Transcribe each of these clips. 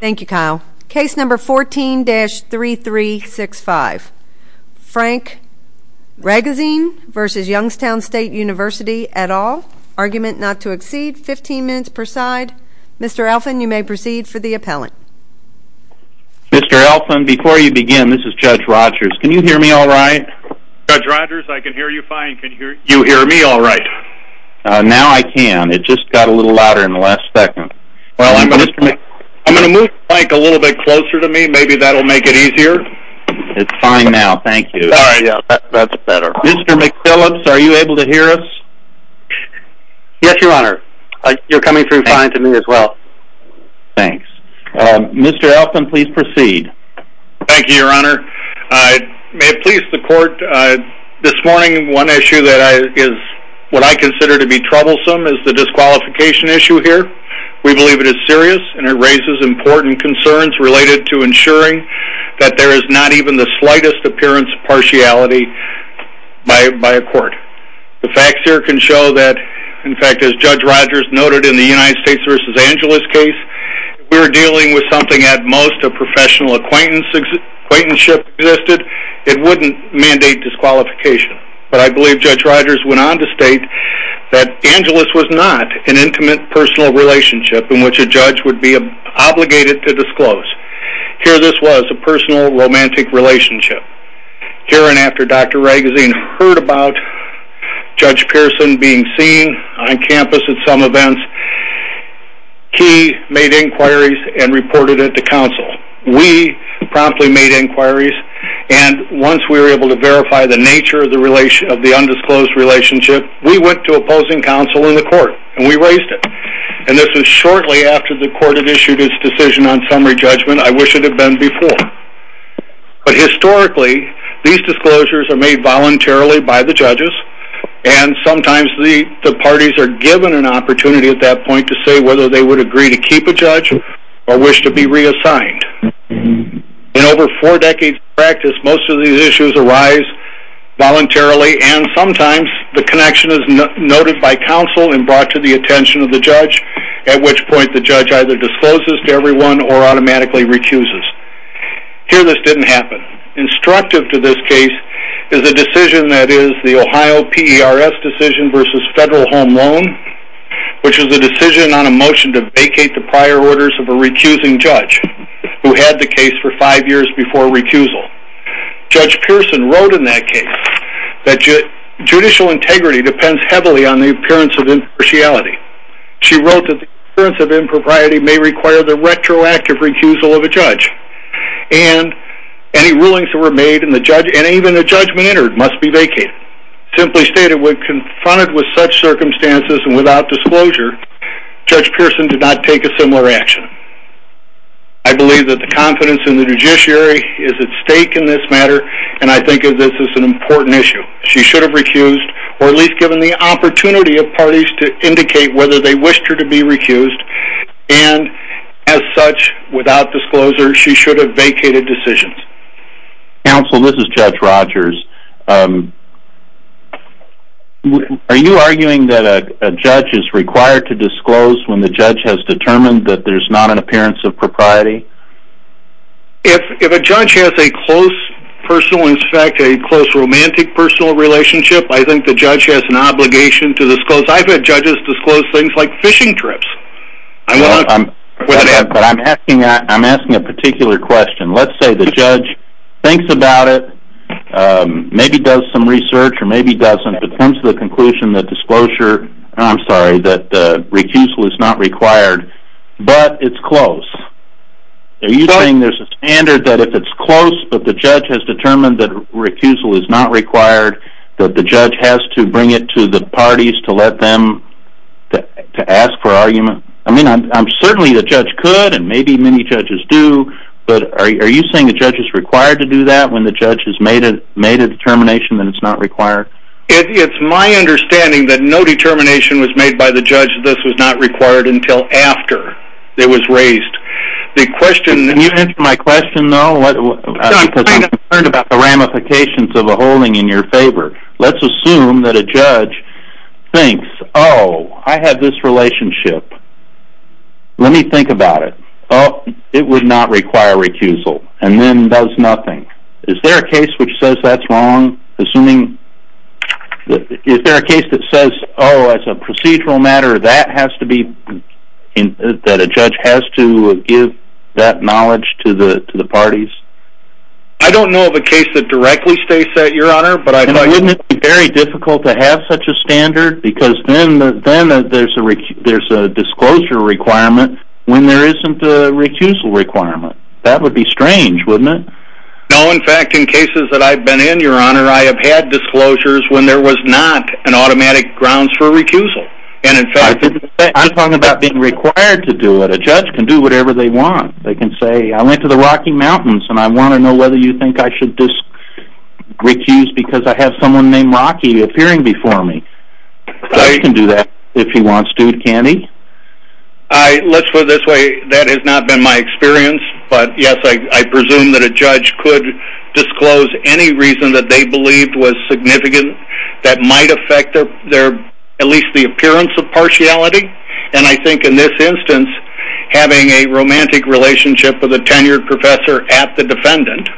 Thank you, Kyle. Case number 14-3365, Frank Ragozzine v. Youngstown State University et. al., argument not to exceed 15 minutes per side. Mr. Alfand, you may proceed for the appellant. Mr. Alfand, before you begin, this is Judge Rogers. Can you hear me all right? Judge Rogers, I can hear you fine. Can you hear me all right? Now I can. It just got a little louder in the last second. I'm going to move the mic a little bit closer to me. Maybe that will make it easier. It's fine now. Thank you. Mr. McPhillips, are you able to hear us? Yes, Your Honor. You're coming through fine to me as well. Thanks. Mr. Alfand, please proceed. Thank you, Your Honor. May it please the court, this morning one issue that is what I consider to be troublesome is the disqualification issue here. We believe it is serious and it raises important concerns related to ensuring that there is not even the slightest appearance of partiality by a court. The facts here can show that, in fact, as Judge Rogers noted in the United States v. Angeles case, we're dealing with something at most a professional acquaintanceship existed, it wouldn't mandate disqualification. But I believe Judge Rogers went on to state that Angeles was not an intimate personal relationship in which a judge would be obligated to disclose. Here this was a personal romantic relationship. Here and after Dr. Ragusea heard about Judge Pearson being seen on campus at some events, he made inquiries and reported it to counsel. We promptly made inquiries and once we were able to verify the nature of the undisclosed relationship, we went to opposing counsel in the court and we raised it. And this was shortly after the court had issued its decision on summary judgment. I wish it had been before. But historically, these disclosures are made voluntarily by the judges and sometimes the parties are given an opportunity at that point to say whether they would agree to keep a judge or wish to be reassigned. In over four decades of practice, most of these issues arise voluntarily and sometimes the connection is noted by counsel and brought to the attention of the judge, at which point the judge either discloses to everyone or automatically recuses. Here this didn't happen. Instructive to this case is a decision that is the Ohio PERS decision versus federal home loan, which is a decision on a motion to vacate the prior orders of a recusing judge who had the case for five years before recusal. Judge Pearson wrote in that case that judicial integrity depends heavily on the appearance of impartiality. She wrote that the appearance of impropriety may require the retroactive recusal of a judge and any rulings that were made in the judge and even the judgment entered must be vacated. Simply stated, when confronted with such circumstances and without disclosure, Judge Pearson did not take a similar action. I believe that the confidence in the judiciary is at stake in this matter and I think of this as an important issue. She should have recused or at least given the opportunity of parties to indicate whether they wished her to be recused and as such, without disclosure, she should have to disclose when the judge has determined that there's not an appearance of propriety. If a judge has a close personal, in fact a close romantic personal relationship, I think the judge has an obligation to disclose. I've had judges disclose things like fishing trips. I'm asking a particular question. Let's say the judge thinks about it, maybe does some I'm sorry, that recusal is not required, but it's close. Are you saying there's a standard that if it's close, but the judge has determined that recusal is not required, that the judge has to bring it to the parties to let them to ask for argument? I mean, I'm certainly the judge could and maybe many judges do, but are you saying the judge is required to do that when the judge has made a determination that it's not required? It's my understanding that no determination was made by the judge that this was not required until after it was raised. The question... Can you answer my question though? I'm concerned about the ramifications of a holding in your favor. Let's assume that a judge thinks, oh, I have this relationship. Let me think about it. Oh, it would not require recusal and then does nothing. Is there a case which says that's wrong? Assuming that, is there a case that says, oh, it's a procedural matter that has to be in, that a judge has to give that knowledge to the, to the parties? I don't know of a case that directly states that, your honor, but I... And wouldn't it be very difficult to have such a standard? Because then, then there's a, there's a disclosure requirement when there isn't a recusal requirement. That would be strange, wouldn't it? No, in fact, in cases that I've been in, your honor, I have had disclosures when there was not an automatic grounds for recusal. And in fact... I'm talking about being required to do it. A judge can do whatever they want. They can say, I went to the Rocky Mountains and I want to know whether you think I should just recuse because I have someone named Rocky appearing before me. A judge can do that if he wants to, can't he? I, let's put it this way, that has not been my experience, but yes, I presume that a judge could disclose any reason that they believed was significant that might affect their, their, at least the appearance of partiality. And I think in this instance, having a romantic relationship with a tenured professor at the defendant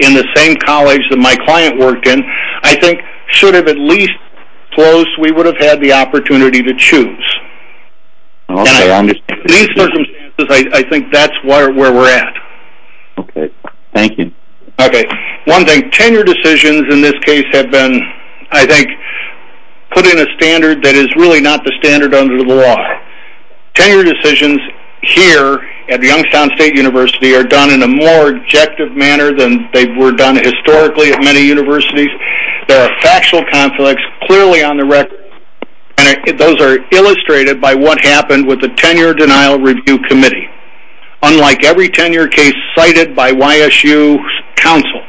in the same college that my client worked in, I think should have at least closed, we would have had the opportunity to choose. Okay, I understand. In these circumstances, I think that's where we're at. Okay, thank you. Okay, one thing, tenure decisions in this case have been, I think, put in a standard that is really not the standard under the law. Tenure decisions here at Youngstown State University are done in a more objective manner than they were done historically at many universities. There are factual conflicts clearly on the record, and those are illustrated by what happened with the Tenure Denial Review Committee. Unlike every tenure case cited by YSU's counsel,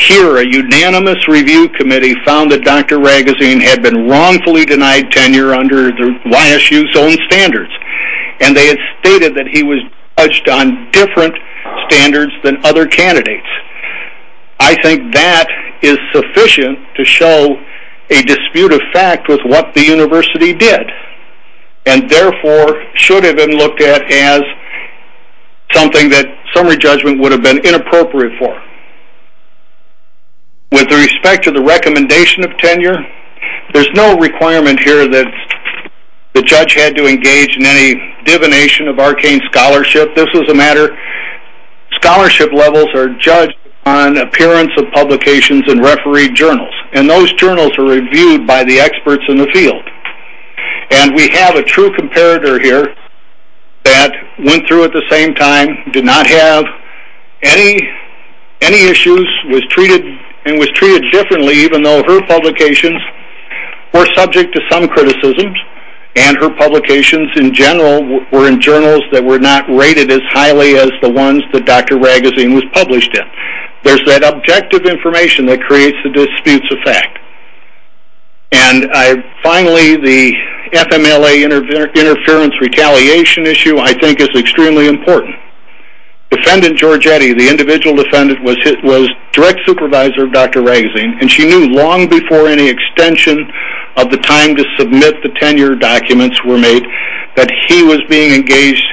here a unanimous review committee found that Dr. Raguseen had been wrongfully denied tenure under the YSU's own standards, and they had stated that he was judged on different standards than other candidates. I think that is sufficient to show a dispute of fact with what the university did, and therefore should have been looked at as something that summary judgment would have been inappropriate for. With respect to the recommendation of tenure, there's no requirement here that the judge had to engage in any divination of arcane scholarship. This is a matter, scholarship levels are judged on appearance of publications in refereed journals, and those journals are reviewed by the experts in the field. And we have a true comparator here that went through at the same time, did not have any issues, was treated differently even though her publications were subject to some criticisms, and her publications in general were in journals that were not rated as highly as the ones that Dr. Raguseen was published in. There's that objective information that creates the disputes of fact. And finally, the FMLA interference retaliation issue I think is extremely important. Defendant Giorgetti, the individual defendant, was direct supervisor of Dr. Raguseen, and she knew long before any extension of the time to submit the tenure documents were made that he was being engaged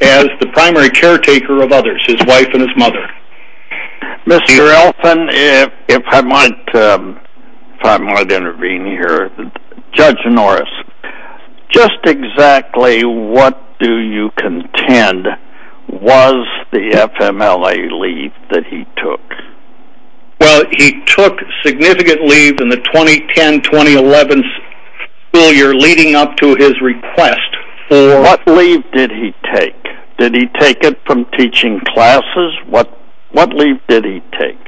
as the primary caretaker of others, his wife and his mother. Mr. Elphin, if I might intervene here, Judge Norris, just exactly what do you contend was the FMLA leave that he took? Well, he took significant leave in the 2010-2011 school year leading up to his request for What leave did he take? Did he take it from teaching classes? What leave did he take?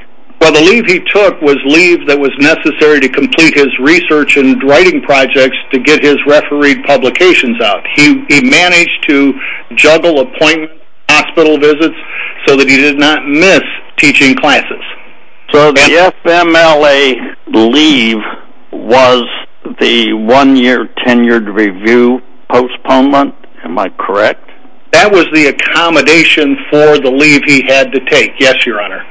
Well, the leave he took was leave that was necessary to complete his research and writing projects to get his refereed publications out. He managed to juggle appointment and so that he did not miss teaching classes. So the FMLA leave was the one-year tenured review postponement, am I correct? That was the accommodation for the leave he had to take, yes, Your Honor.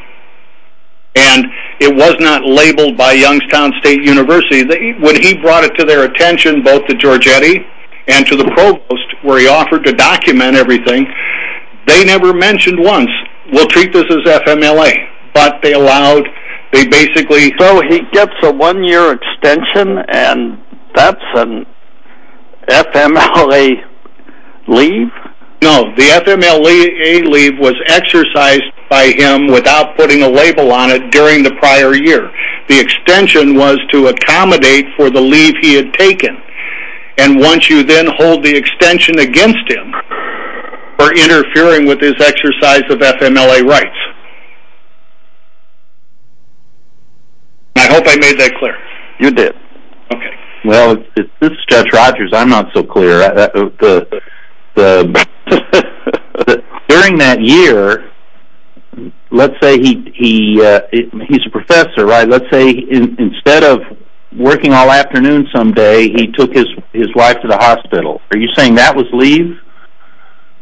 And it was not labeled by Youngstown State University. When he brought it to their attention both to Giorgetti and to the provost where he offered to document everything, they never mentioned once, we'll treat this as FMLA, but they allowed, they basically... So he gets a one-year extension and that's an FMLA leave? No, the FMLA leave was exercised by him without putting a label on it during the prior year. The extension was to accommodate for the leave he had taken. And once you then hold the extension against him for interfering with his exercise of FMLA rights. I hope I made that clear. You did. Okay. Well, this is Judge Rogers, I'm not so clear. During that year, let's say he's a professor, right? Let's say instead of working all afternoon some day, he took his life to the hospital. Are you saying that was leave?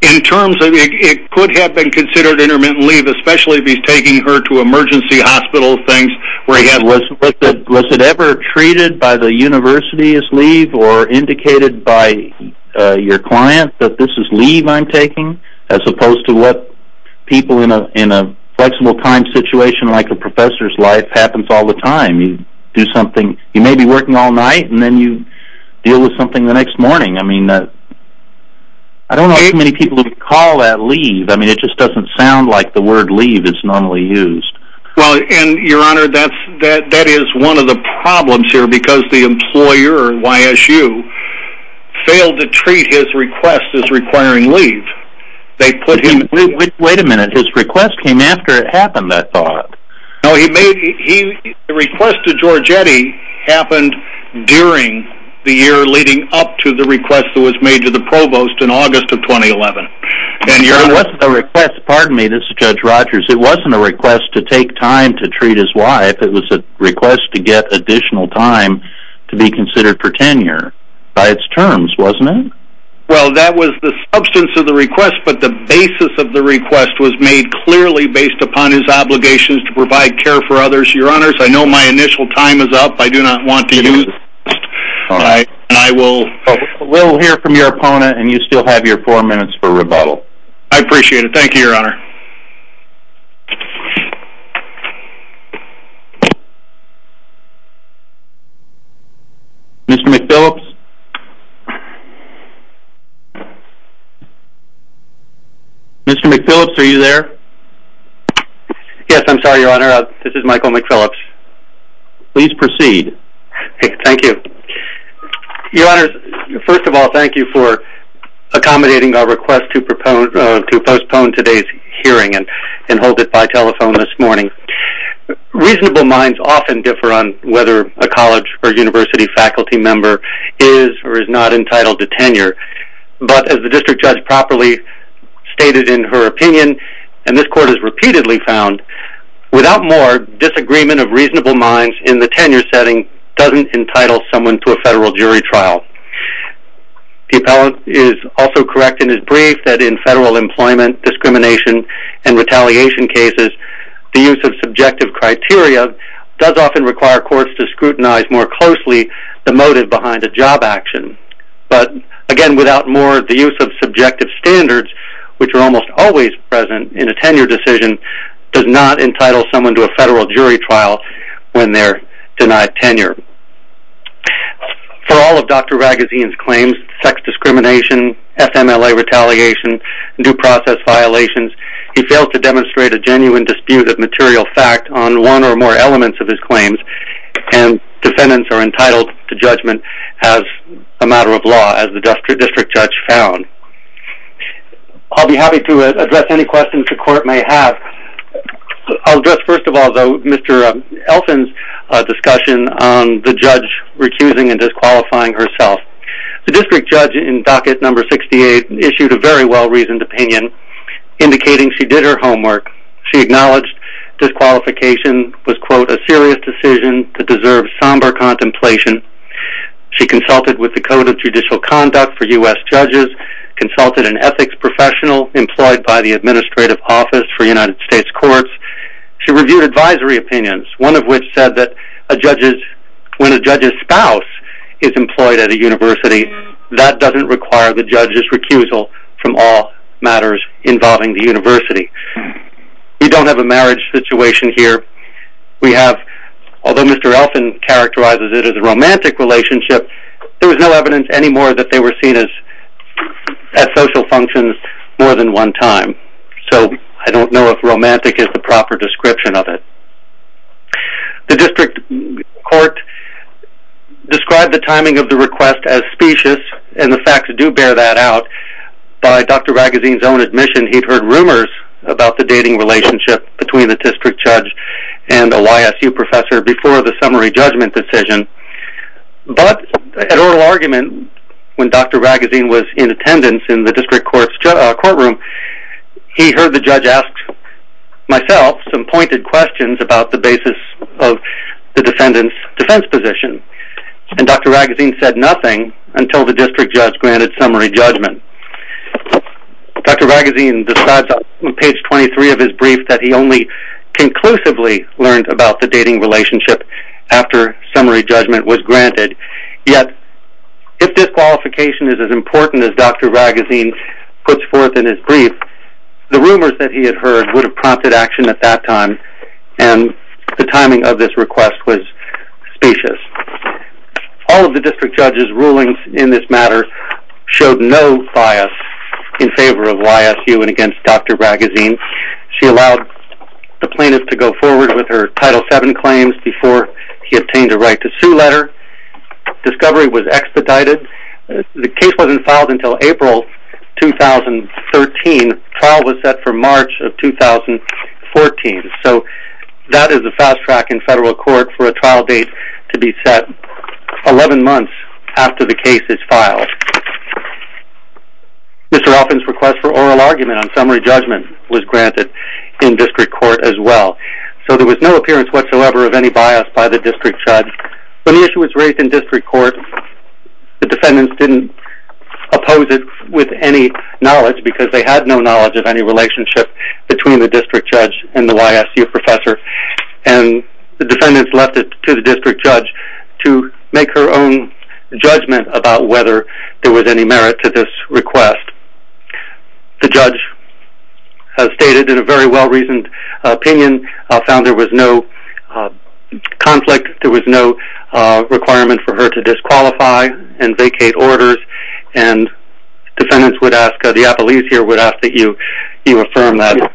In terms of, it could have been considered intermittent leave, especially if he's taking her to emergency hospital things where he had... Was it ever treated by the university as leave or indicated by your client that this is leave I'm taking? As opposed to what people in a flexible time situation like a professor's life happens all the time. You do something, you may be working all night and then you deal with something the next morning. I mean, I don't know how many people would call that leave. I mean, it just doesn't sound like the word leave is normally used. Well, and your honor, that is one of the problems here because the employer, YSU, failed to treat his request as requiring leave. Wait a minute, his request came after it happened, I thought. No, the request to Giorgetti happened during the year leading up to the request that was made to the provost in August of 2011. It wasn't a request, pardon me, this is Judge Rogers, it wasn't a request to take time to treat his wife, it was a request to get additional time to be considered for tenure by its terms, wasn't it? Well, that was the substance of the request, but the basis of the request was made clearly based upon his obligations to provide care for others. Your honors, I know my initial time is up, I do not want to use this, and I will... We'll hear from your opponent and you still have your four minutes for rebuttal. I appreciate it, thank you, your honor. Mr. McPhillips? Mr. McPhillips, are you there? Yes, I'm sorry, your honor, this is Michael McPhillips. Please proceed. Thank you. Your honors, first of all, thank you for accommodating our request to postpone today's hearing and hold it by telephone this morning. Reasonable minds often differ on whether a college or university faculty member is or is not entitled to tenure, but as the district judge properly stated in her opinion, and this court has repeatedly found, without more, disagreement of reasonable minds in the tenure setting doesn't entitle someone to a federal jury trial. The appellant is also correct in his brief that in federal employment, discrimination and retaliation cases, the use of subjective criteria does often require courts to scrutinize more closely the motive behind a job action. But again, without more, the use of subjective standards, which are almost always present in a tenure decision, does not entitle someone to a federal jury trial when they're denied tenure. For all of Dr. Ragusean's claims, sex discrimination, FMLA retaliation, due process violations, he failed to demonstrate a genuine dispute of material fact on one or more elements of his claims and defendants are entitled to judgment as a matter of law, as the district judge found. I'll be happy to address any questions the court may have. I'll address, first of all, Mr. Elson's discussion on the judge recusing and disqualifying herself. The district judge in docket number 68 issued a very well-reasoned opinion indicating she did her homework. She acknowledged disqualification was, quote, a serious decision that deserves somber contemplation. She consulted with the Code of Judicial Conduct for U.S. judges, consulted an ethics professional employed by the Administrative Office for United States Courts. She reviewed advisory opinions, one of which said that when a judge's spouse is employed at a university, that doesn't require the judge's recusal from all matters involving the university. We don't have a marriage situation here. We have, although Mr. Elson characterizes it as a romantic relationship, there was no evidence anymore that they were seen as social functions more than one time. So I don't know if romantic is the proper description of it. The district court described the timing of the request as specious and the facts do bear that out. By Dr. Raguseen's own admission, he'd heard rumors about the dating relationship between the district judge and a YSU professor before the summary judgment decision. But at oral argument, when Dr. Raguseen was in attendance in the district court's courtroom, he heard the judge ask myself some pointed questions about the basis of the defendant's defense position. And Dr. Raguseen said nothing until the district judge granted summary judgment. Dr. Raguseen describes on page 23 of his brief that he only conclusively learned about the dating relationship after summary judgment was granted. Yet, if disqualification is as important as Dr. Raguseen puts forth in his brief, the rumors that he had heard would have prompted action at that time and the timing of this request was specious. All of the district judge's rulings in this matter showed no bias in favor of YSU and against Dr. Raguseen. She allowed the plaintiff to go forward with her Title VII claims before he obtained a right to sue letter. Discovery was expedited. The case wasn't filed until April 2013. Trial was set for March of 2014. So that is a fast track in federal court for a trial date to be set 11 months after the case is filed. Mr. Offen's request for oral argument on summary judgment was granted in district court as well. So there was no appearance whatsoever of any bias by the district judge. When the issue was raised in district court, the defendants didn't oppose it with any knowledge because they had no knowledge of any relationship between the district judge and the YSU professor. And the defendants left it to the district judge to make her own judgment about whether there was any merit to this request. The judge has stated in a very well-reasoned opinion, found there was no conflict, there was no requirement for her to disqualify and vacate orders and defendants would ask, the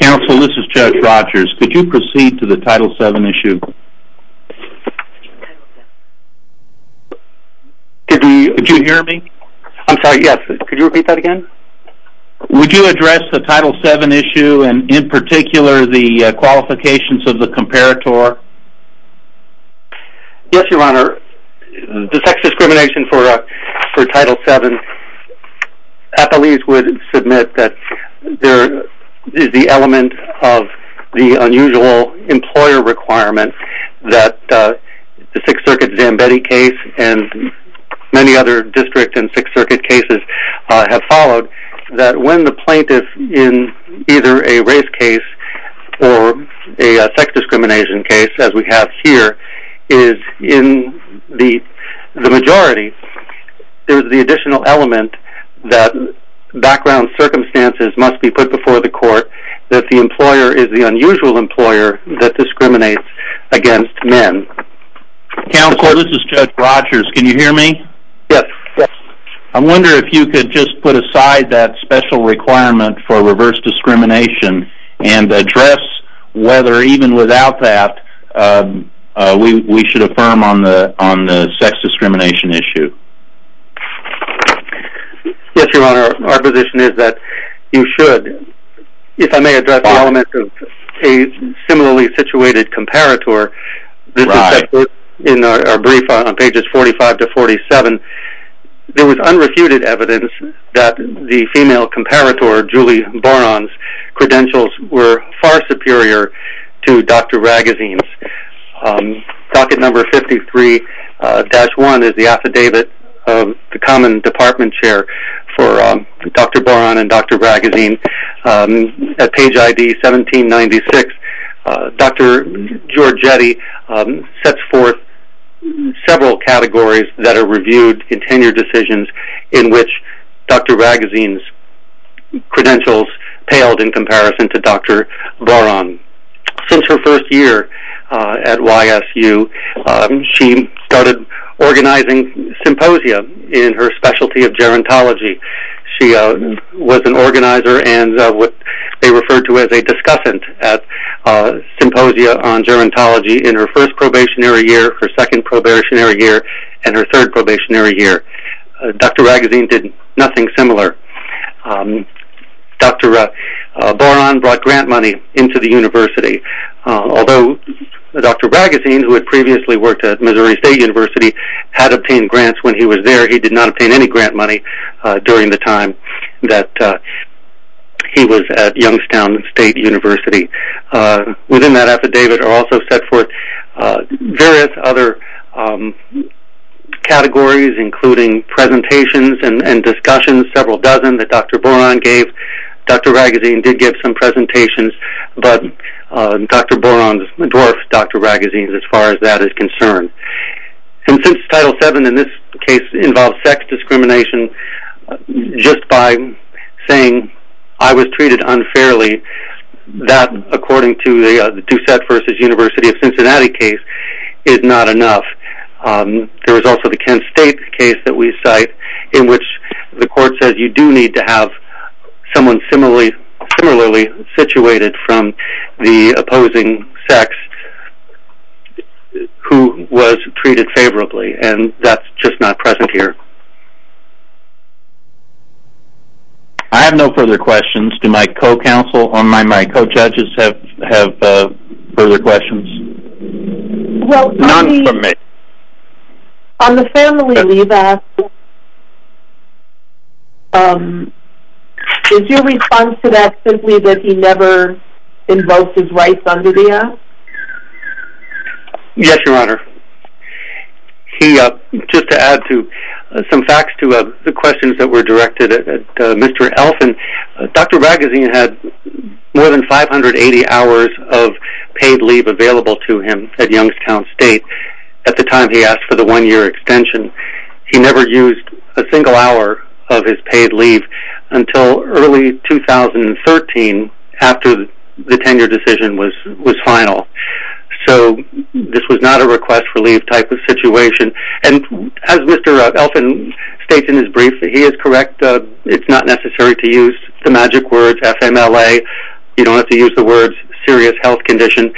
counsel, this is Judge Rogers. Could you proceed to the Title VII issue? Did you hear me? I'm sorry, yes. Could you repeat that again? Would you address the Title VII issue and in particular the qualifications of the comparator? Yes, Your Honor. The sex discrimination for Title VII, athletes would submit that there is the element of the unusual employer requirement that the Sixth Circuit Zambetti case and many other district and Sixth Circuit cases have followed that when the plaintiff in either a race case or a sex discrimination case, as we have here, is in the majority, there's the additional element that background circumstances must be put before the court that the employer is the unusual employer that discriminates against men. Counsel, this is Judge Rogers. Can you hear me? Yes. I wonder if you could just put aside that special requirement for reverse discrimination and address whether even without that we should affirm on the sex discrimination issue. Yes, Your Honor. Our position is that you should. If I may address the element of a similarly situated comparator, this is in our brief on pages 45 to 47. There was unrefuted evidence that the female comparator, Julie Boron's, credentials were far superior to Dr. Ragazzine's. Docket number 53-1 is the affidavit of the common department chair for Dr. Boron and Dr. Ragazzine. At page ID 1796, Dr. Giorgetti sets forth several categories that are reviewed in tenure decisions in which Dr. Ragazzine's credentials paled in comparison to Dr. Boron. Since her first year at YSU, she started organizing symposia in her specialty of gerontology. She was an organizer and what they referred to as a discussant at symposia on gerontology in her first probationary year, her second probationary year, and her third probationary year. Dr. Ragazzine did nothing similar. Dr. Boron brought grant money into the university, although Dr. Ragazzine, who had previously worked at Missouri State University, had obtained grants when he was there. He did not obtain any grant money during the time that he was at Youngstown State University. Within that affidavit are also set forth various other categories, including presentations and discussions, several dozen that Dr. Boron gave. Dr. Ragazzine did give some presentations, but Dr. Boron dwarfed Dr. Ragazzine's as far as that is concerned. And since Title VII in this case involves sex discrimination, just by saying, I was treated unfairly, that according to the Doucette v. University of Cincinnati case is not enough. There is also the Kent State case that we cite in which the court says you do need to I have no further questions. Do my co-counsel or my co-judges have further questions? None from me. On the family leave act, is your response to that simply that he never invoked his rights under the act? Yes, Your Honor. Just to add to some facts to the questions that were directed at Mr. Elf, Dr. Ragazzine had more than 580 hours of paid leave available to him at Youngstown State at the time he asked for the one-year extension. He never used a single hour of his paid leave until early 2013 after the tenure decision was final. So this was not a request for leave type of situation. And as Mr. Elf states in his brief, he is correct, it's not necessary to use the magic words FMLA, you don't have to use the words serious health condition,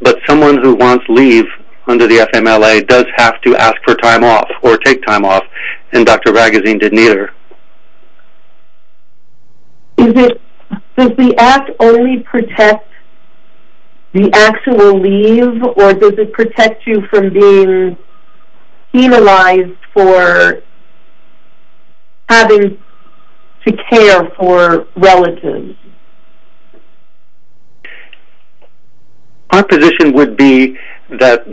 but someone who wants leave under the FMLA does have to ask for time off or take time off and Dr. Ragazzine didn't either. Does the act only protect the actual leave or does it protect you from being penalized for having to care for relatives? Our position would be that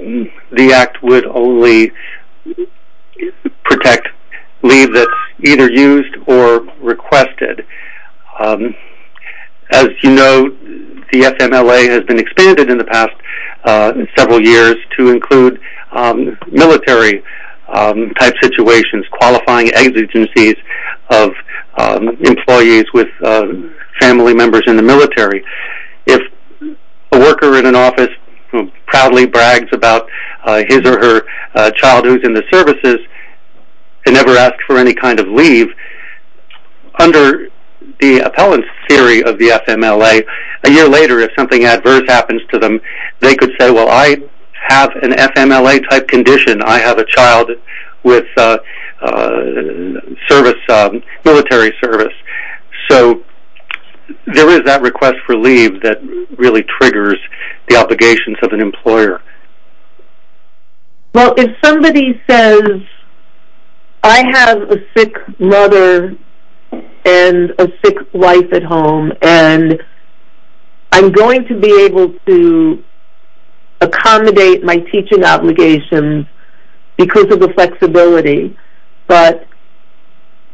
the act would only protect leave that's either used or requested. As you know, the FMLA has been expanded in the past several years to include military type situations, qualifying agencies of employees with family members in the military. If a worker in an office proudly brags about his or her childhood in the services and never asks for any kind of leave, under the appellant's theory of the FMLA, a year later if something adverse happens to them, they could say, well I have an FMLA type condition, I have a child with military service. So there is that request for leave that really triggers the obligations of an employer. Well, if somebody says I have a sick mother and a sick wife at home and I'm going to be able to accommodate my teaching obligations because of the flexibility, but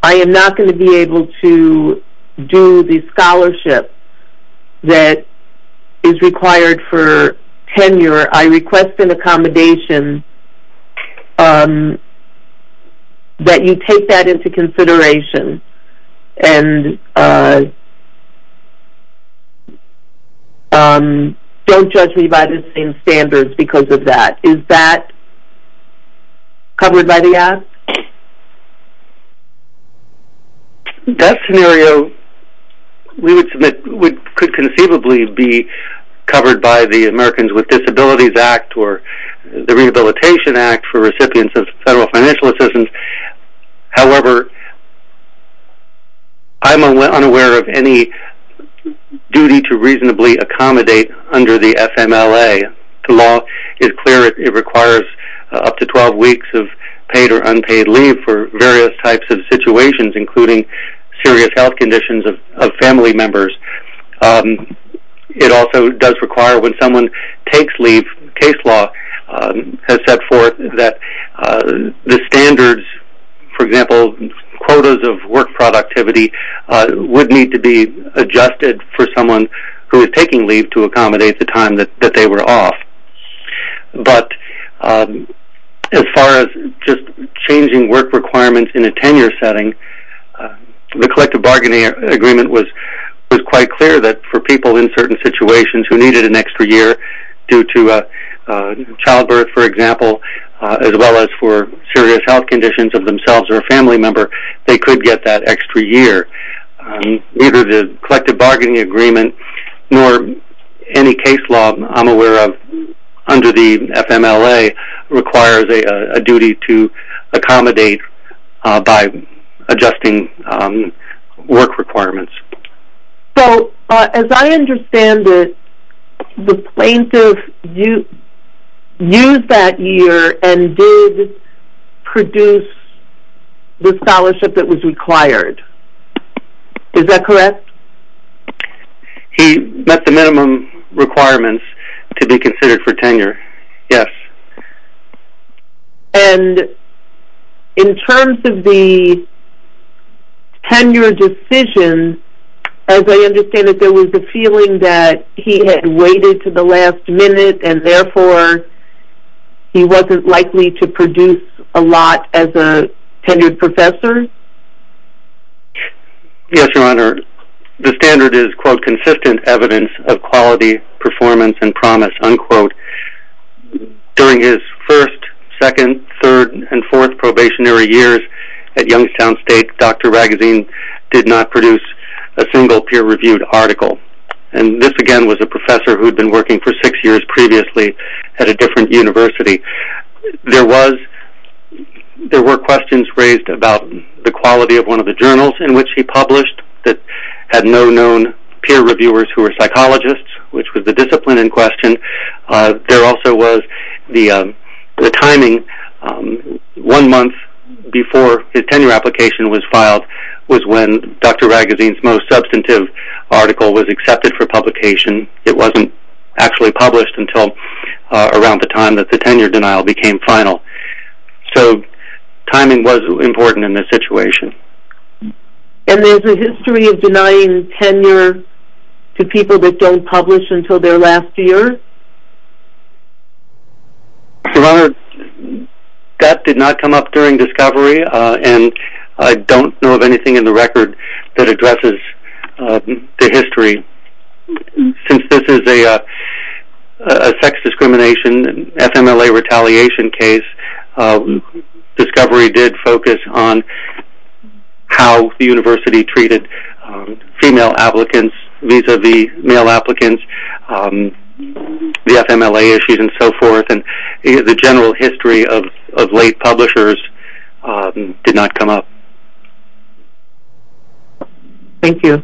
I am not going to be able to do the scholarship that is required for tenure, I request an accommodation that you take that into consideration and don't judge me by the same standards because of that. Is that covered by the act? That scenario could conceivably be covered by the Americans with Disabilities Act or the Rehabilitation Act for recipients of federal financial assistance, however, I'm unaware of any duty to reasonably accommodate under the FMLA. The law is clear, it requires up to 12 weeks of paid or unpaid leave for various types of situations including serious health conditions of family members. It also does require when someone takes leave, case law has set forth that the standards, for example, quotas of work productivity would need to be adjusted for someone who is taking leave to accommodate the time that they were off. But as far as just changing work requirements in a tenure setting, the collective bargaining agreement was quite clear that for people in certain situations who needed an extra year due to childbirth, for example, as well as for serious health conditions of themselves or a family member, they could get that extra year. Neither the collective bargaining agreement nor any case law I'm aware of under the FMLA requires a duty to accommodate by adjusting work requirements. So, as I understand it, the plaintiff used that year and did produce the scholarship that was required. Is that correct? He met the minimum requirements to be considered for tenure. Yes. And in terms of the tenure decision, as I understand it, there was a feeling that he had waited to the last minute and therefore he wasn't likely to produce a lot as a qualified professor? Yes, Your Honor. The standard is, quote, consistent evidence of quality, performance, and promise, unquote. During his first, second, third, and fourth probationary years at Youngstown State, Dr. Raguseen did not produce a single peer-reviewed article. And this, again, was a professor who'd been working for six years previously at a different university. There were questions raised about the quality of one of the journals in which he published that had no known peer reviewers who were psychologists, which was the discipline in question. There also was the timing. One month before his tenure application was filed was when Dr. Raguseen's most substantive article was accepted for publication. It wasn't actually published until around the time that the tenure denial became final. So timing was important in this situation. And there's a history of denying tenure to people that don't publish until their last year? Your Honor, that did not come up during discovery and I don't know of anything in the record that addresses the history. Since this is a sex discrimination, FMLA retaliation case, discovery did focus on how the university treated female applicants vis-a-vis male applicants, the FMLA issues, and so forth. The general history of late publishers did not come up. Thank you.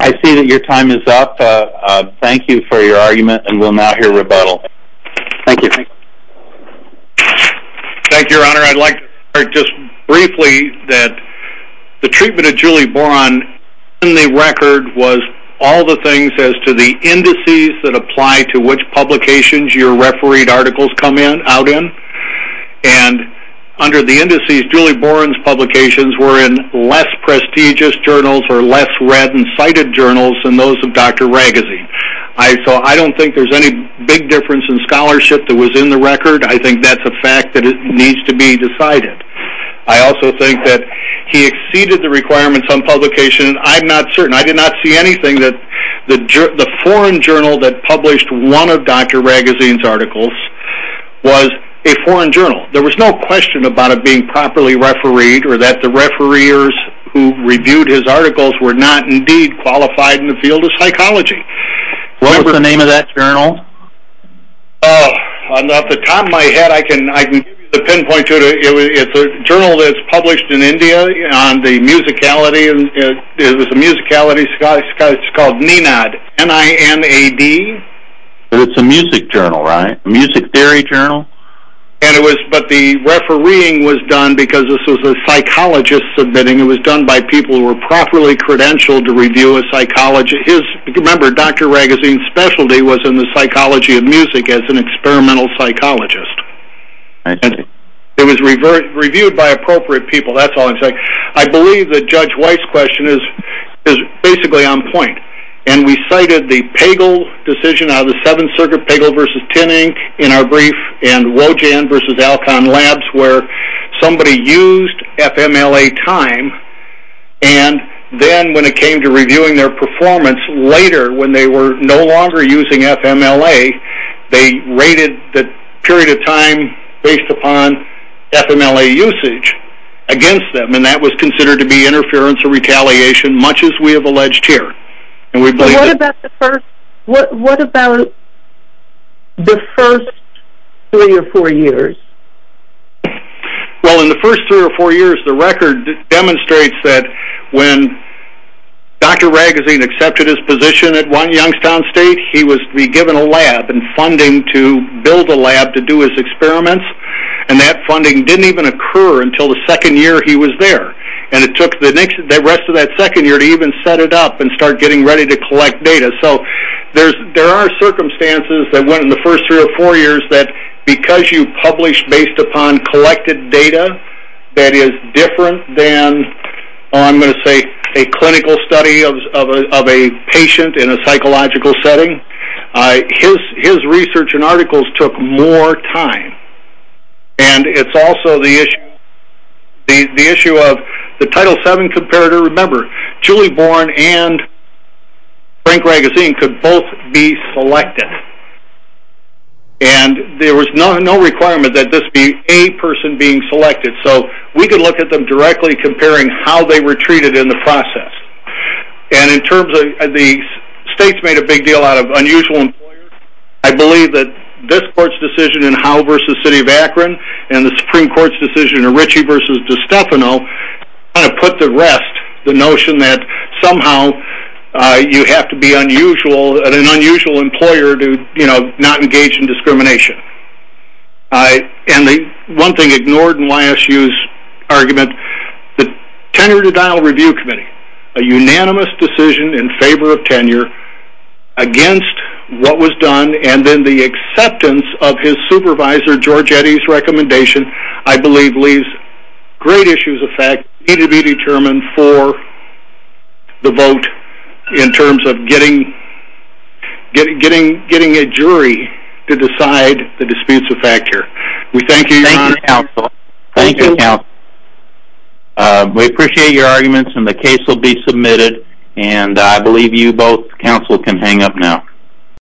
I see that your time is up. Thank you for your argument and we'll now hear rebuttal. Thank you. Thank you, Your Honor. I'd like to just briefly that the treatment of Julie Boron in the record was all the things as to the indices that apply to which publications your refereed articles come out in. And under the indices, Julie Boron's publications were in less prestigious journals or less read and cited journals than those of Dr. Raguseen. So I don't think there's any big difference in scholarship that was in the record. I think that's a fact that needs to be decided. I also think that he exceeded the requirements on publication. I'm not certain. I did not see anything that the foreign journal that published one of Dr. Raguseen's articles was a foreign journal. There was no question about it being properly refereed or that the refereers who reviewed his articles were not indeed qualified in the field of psychology. What was the name of that journal? Off the top of my head, I can pinpoint to it. It's a journal that's published in India on the musicality. It's called NINAD. N-I-N-A-D? It's a music journal, right? A music theory journal? But the refereeing was done because this was a psychologist submitting. It was done by people who were properly credentialed to review a psychologist. Remember, Dr. Raguseen's specialty was in the psychology of music as an experimental psychologist. I see. It was reviewed by appropriate people. That's all I'm saying. I believe that Judge White's question is basically on point. We cited the Pagel decision out of the Seventh Circuit, Pagel versus Tinning in our brief and Wojan versus Alcon Labs where somebody used FMLA time and then when it came to reviewing their performance later when they were no longer using FMLA, they rated the period of time based upon FMLA usage against them and that was considered to be interference or retaliation much as we have alleged here. What about the first three or four years? Well, in the first three or four years, the record demonstrates that when Dr. Raguseen accepted his position at One Youngstown State, he was to be given a lab and funding to build a lab to do his experiments and that funding didn't even occur until the second year he was there. And it took the rest of that second year to even set it up and start getting ready to collect data. So there are circumstances that went in the first three or four years that because you published based upon collected data that is different than, I'm going to say, a clinical study of a patient in a psychological setting, his research and articles took more time. And it's also the issue of the Title VII comparator. Remember, Julie Bourne and Frank Raguseen could both be selected and there was no requirement that this be a person being selected. So we could look at them directly comparing how they were treated in the process. And in terms of the states made a big deal out of unusual employers, I believe that this court's decision in Howe v. City of Akron and the Supreme Court's decision in Ritchie v. DeStefano kind of put to rest the notion that somehow you have to be an unusual employer to not engage in discrimination. And the one thing ignored in YSU's argument, the Tenure to Dial Review Committee, a unanimous decision in favor of tenure against what was done and then the acceptance of his supervisor George Eddy's recommendation, I believe leaves great issues of fact that need to be determined for the vote in terms of getting a jury to decide the disputes of factor. We thank you, Your Honor. Thank you, Counsel. Thank you, Counsel. We appreciate your arguments and the case will be submitted and I believe you both, Counsel, can hang up now.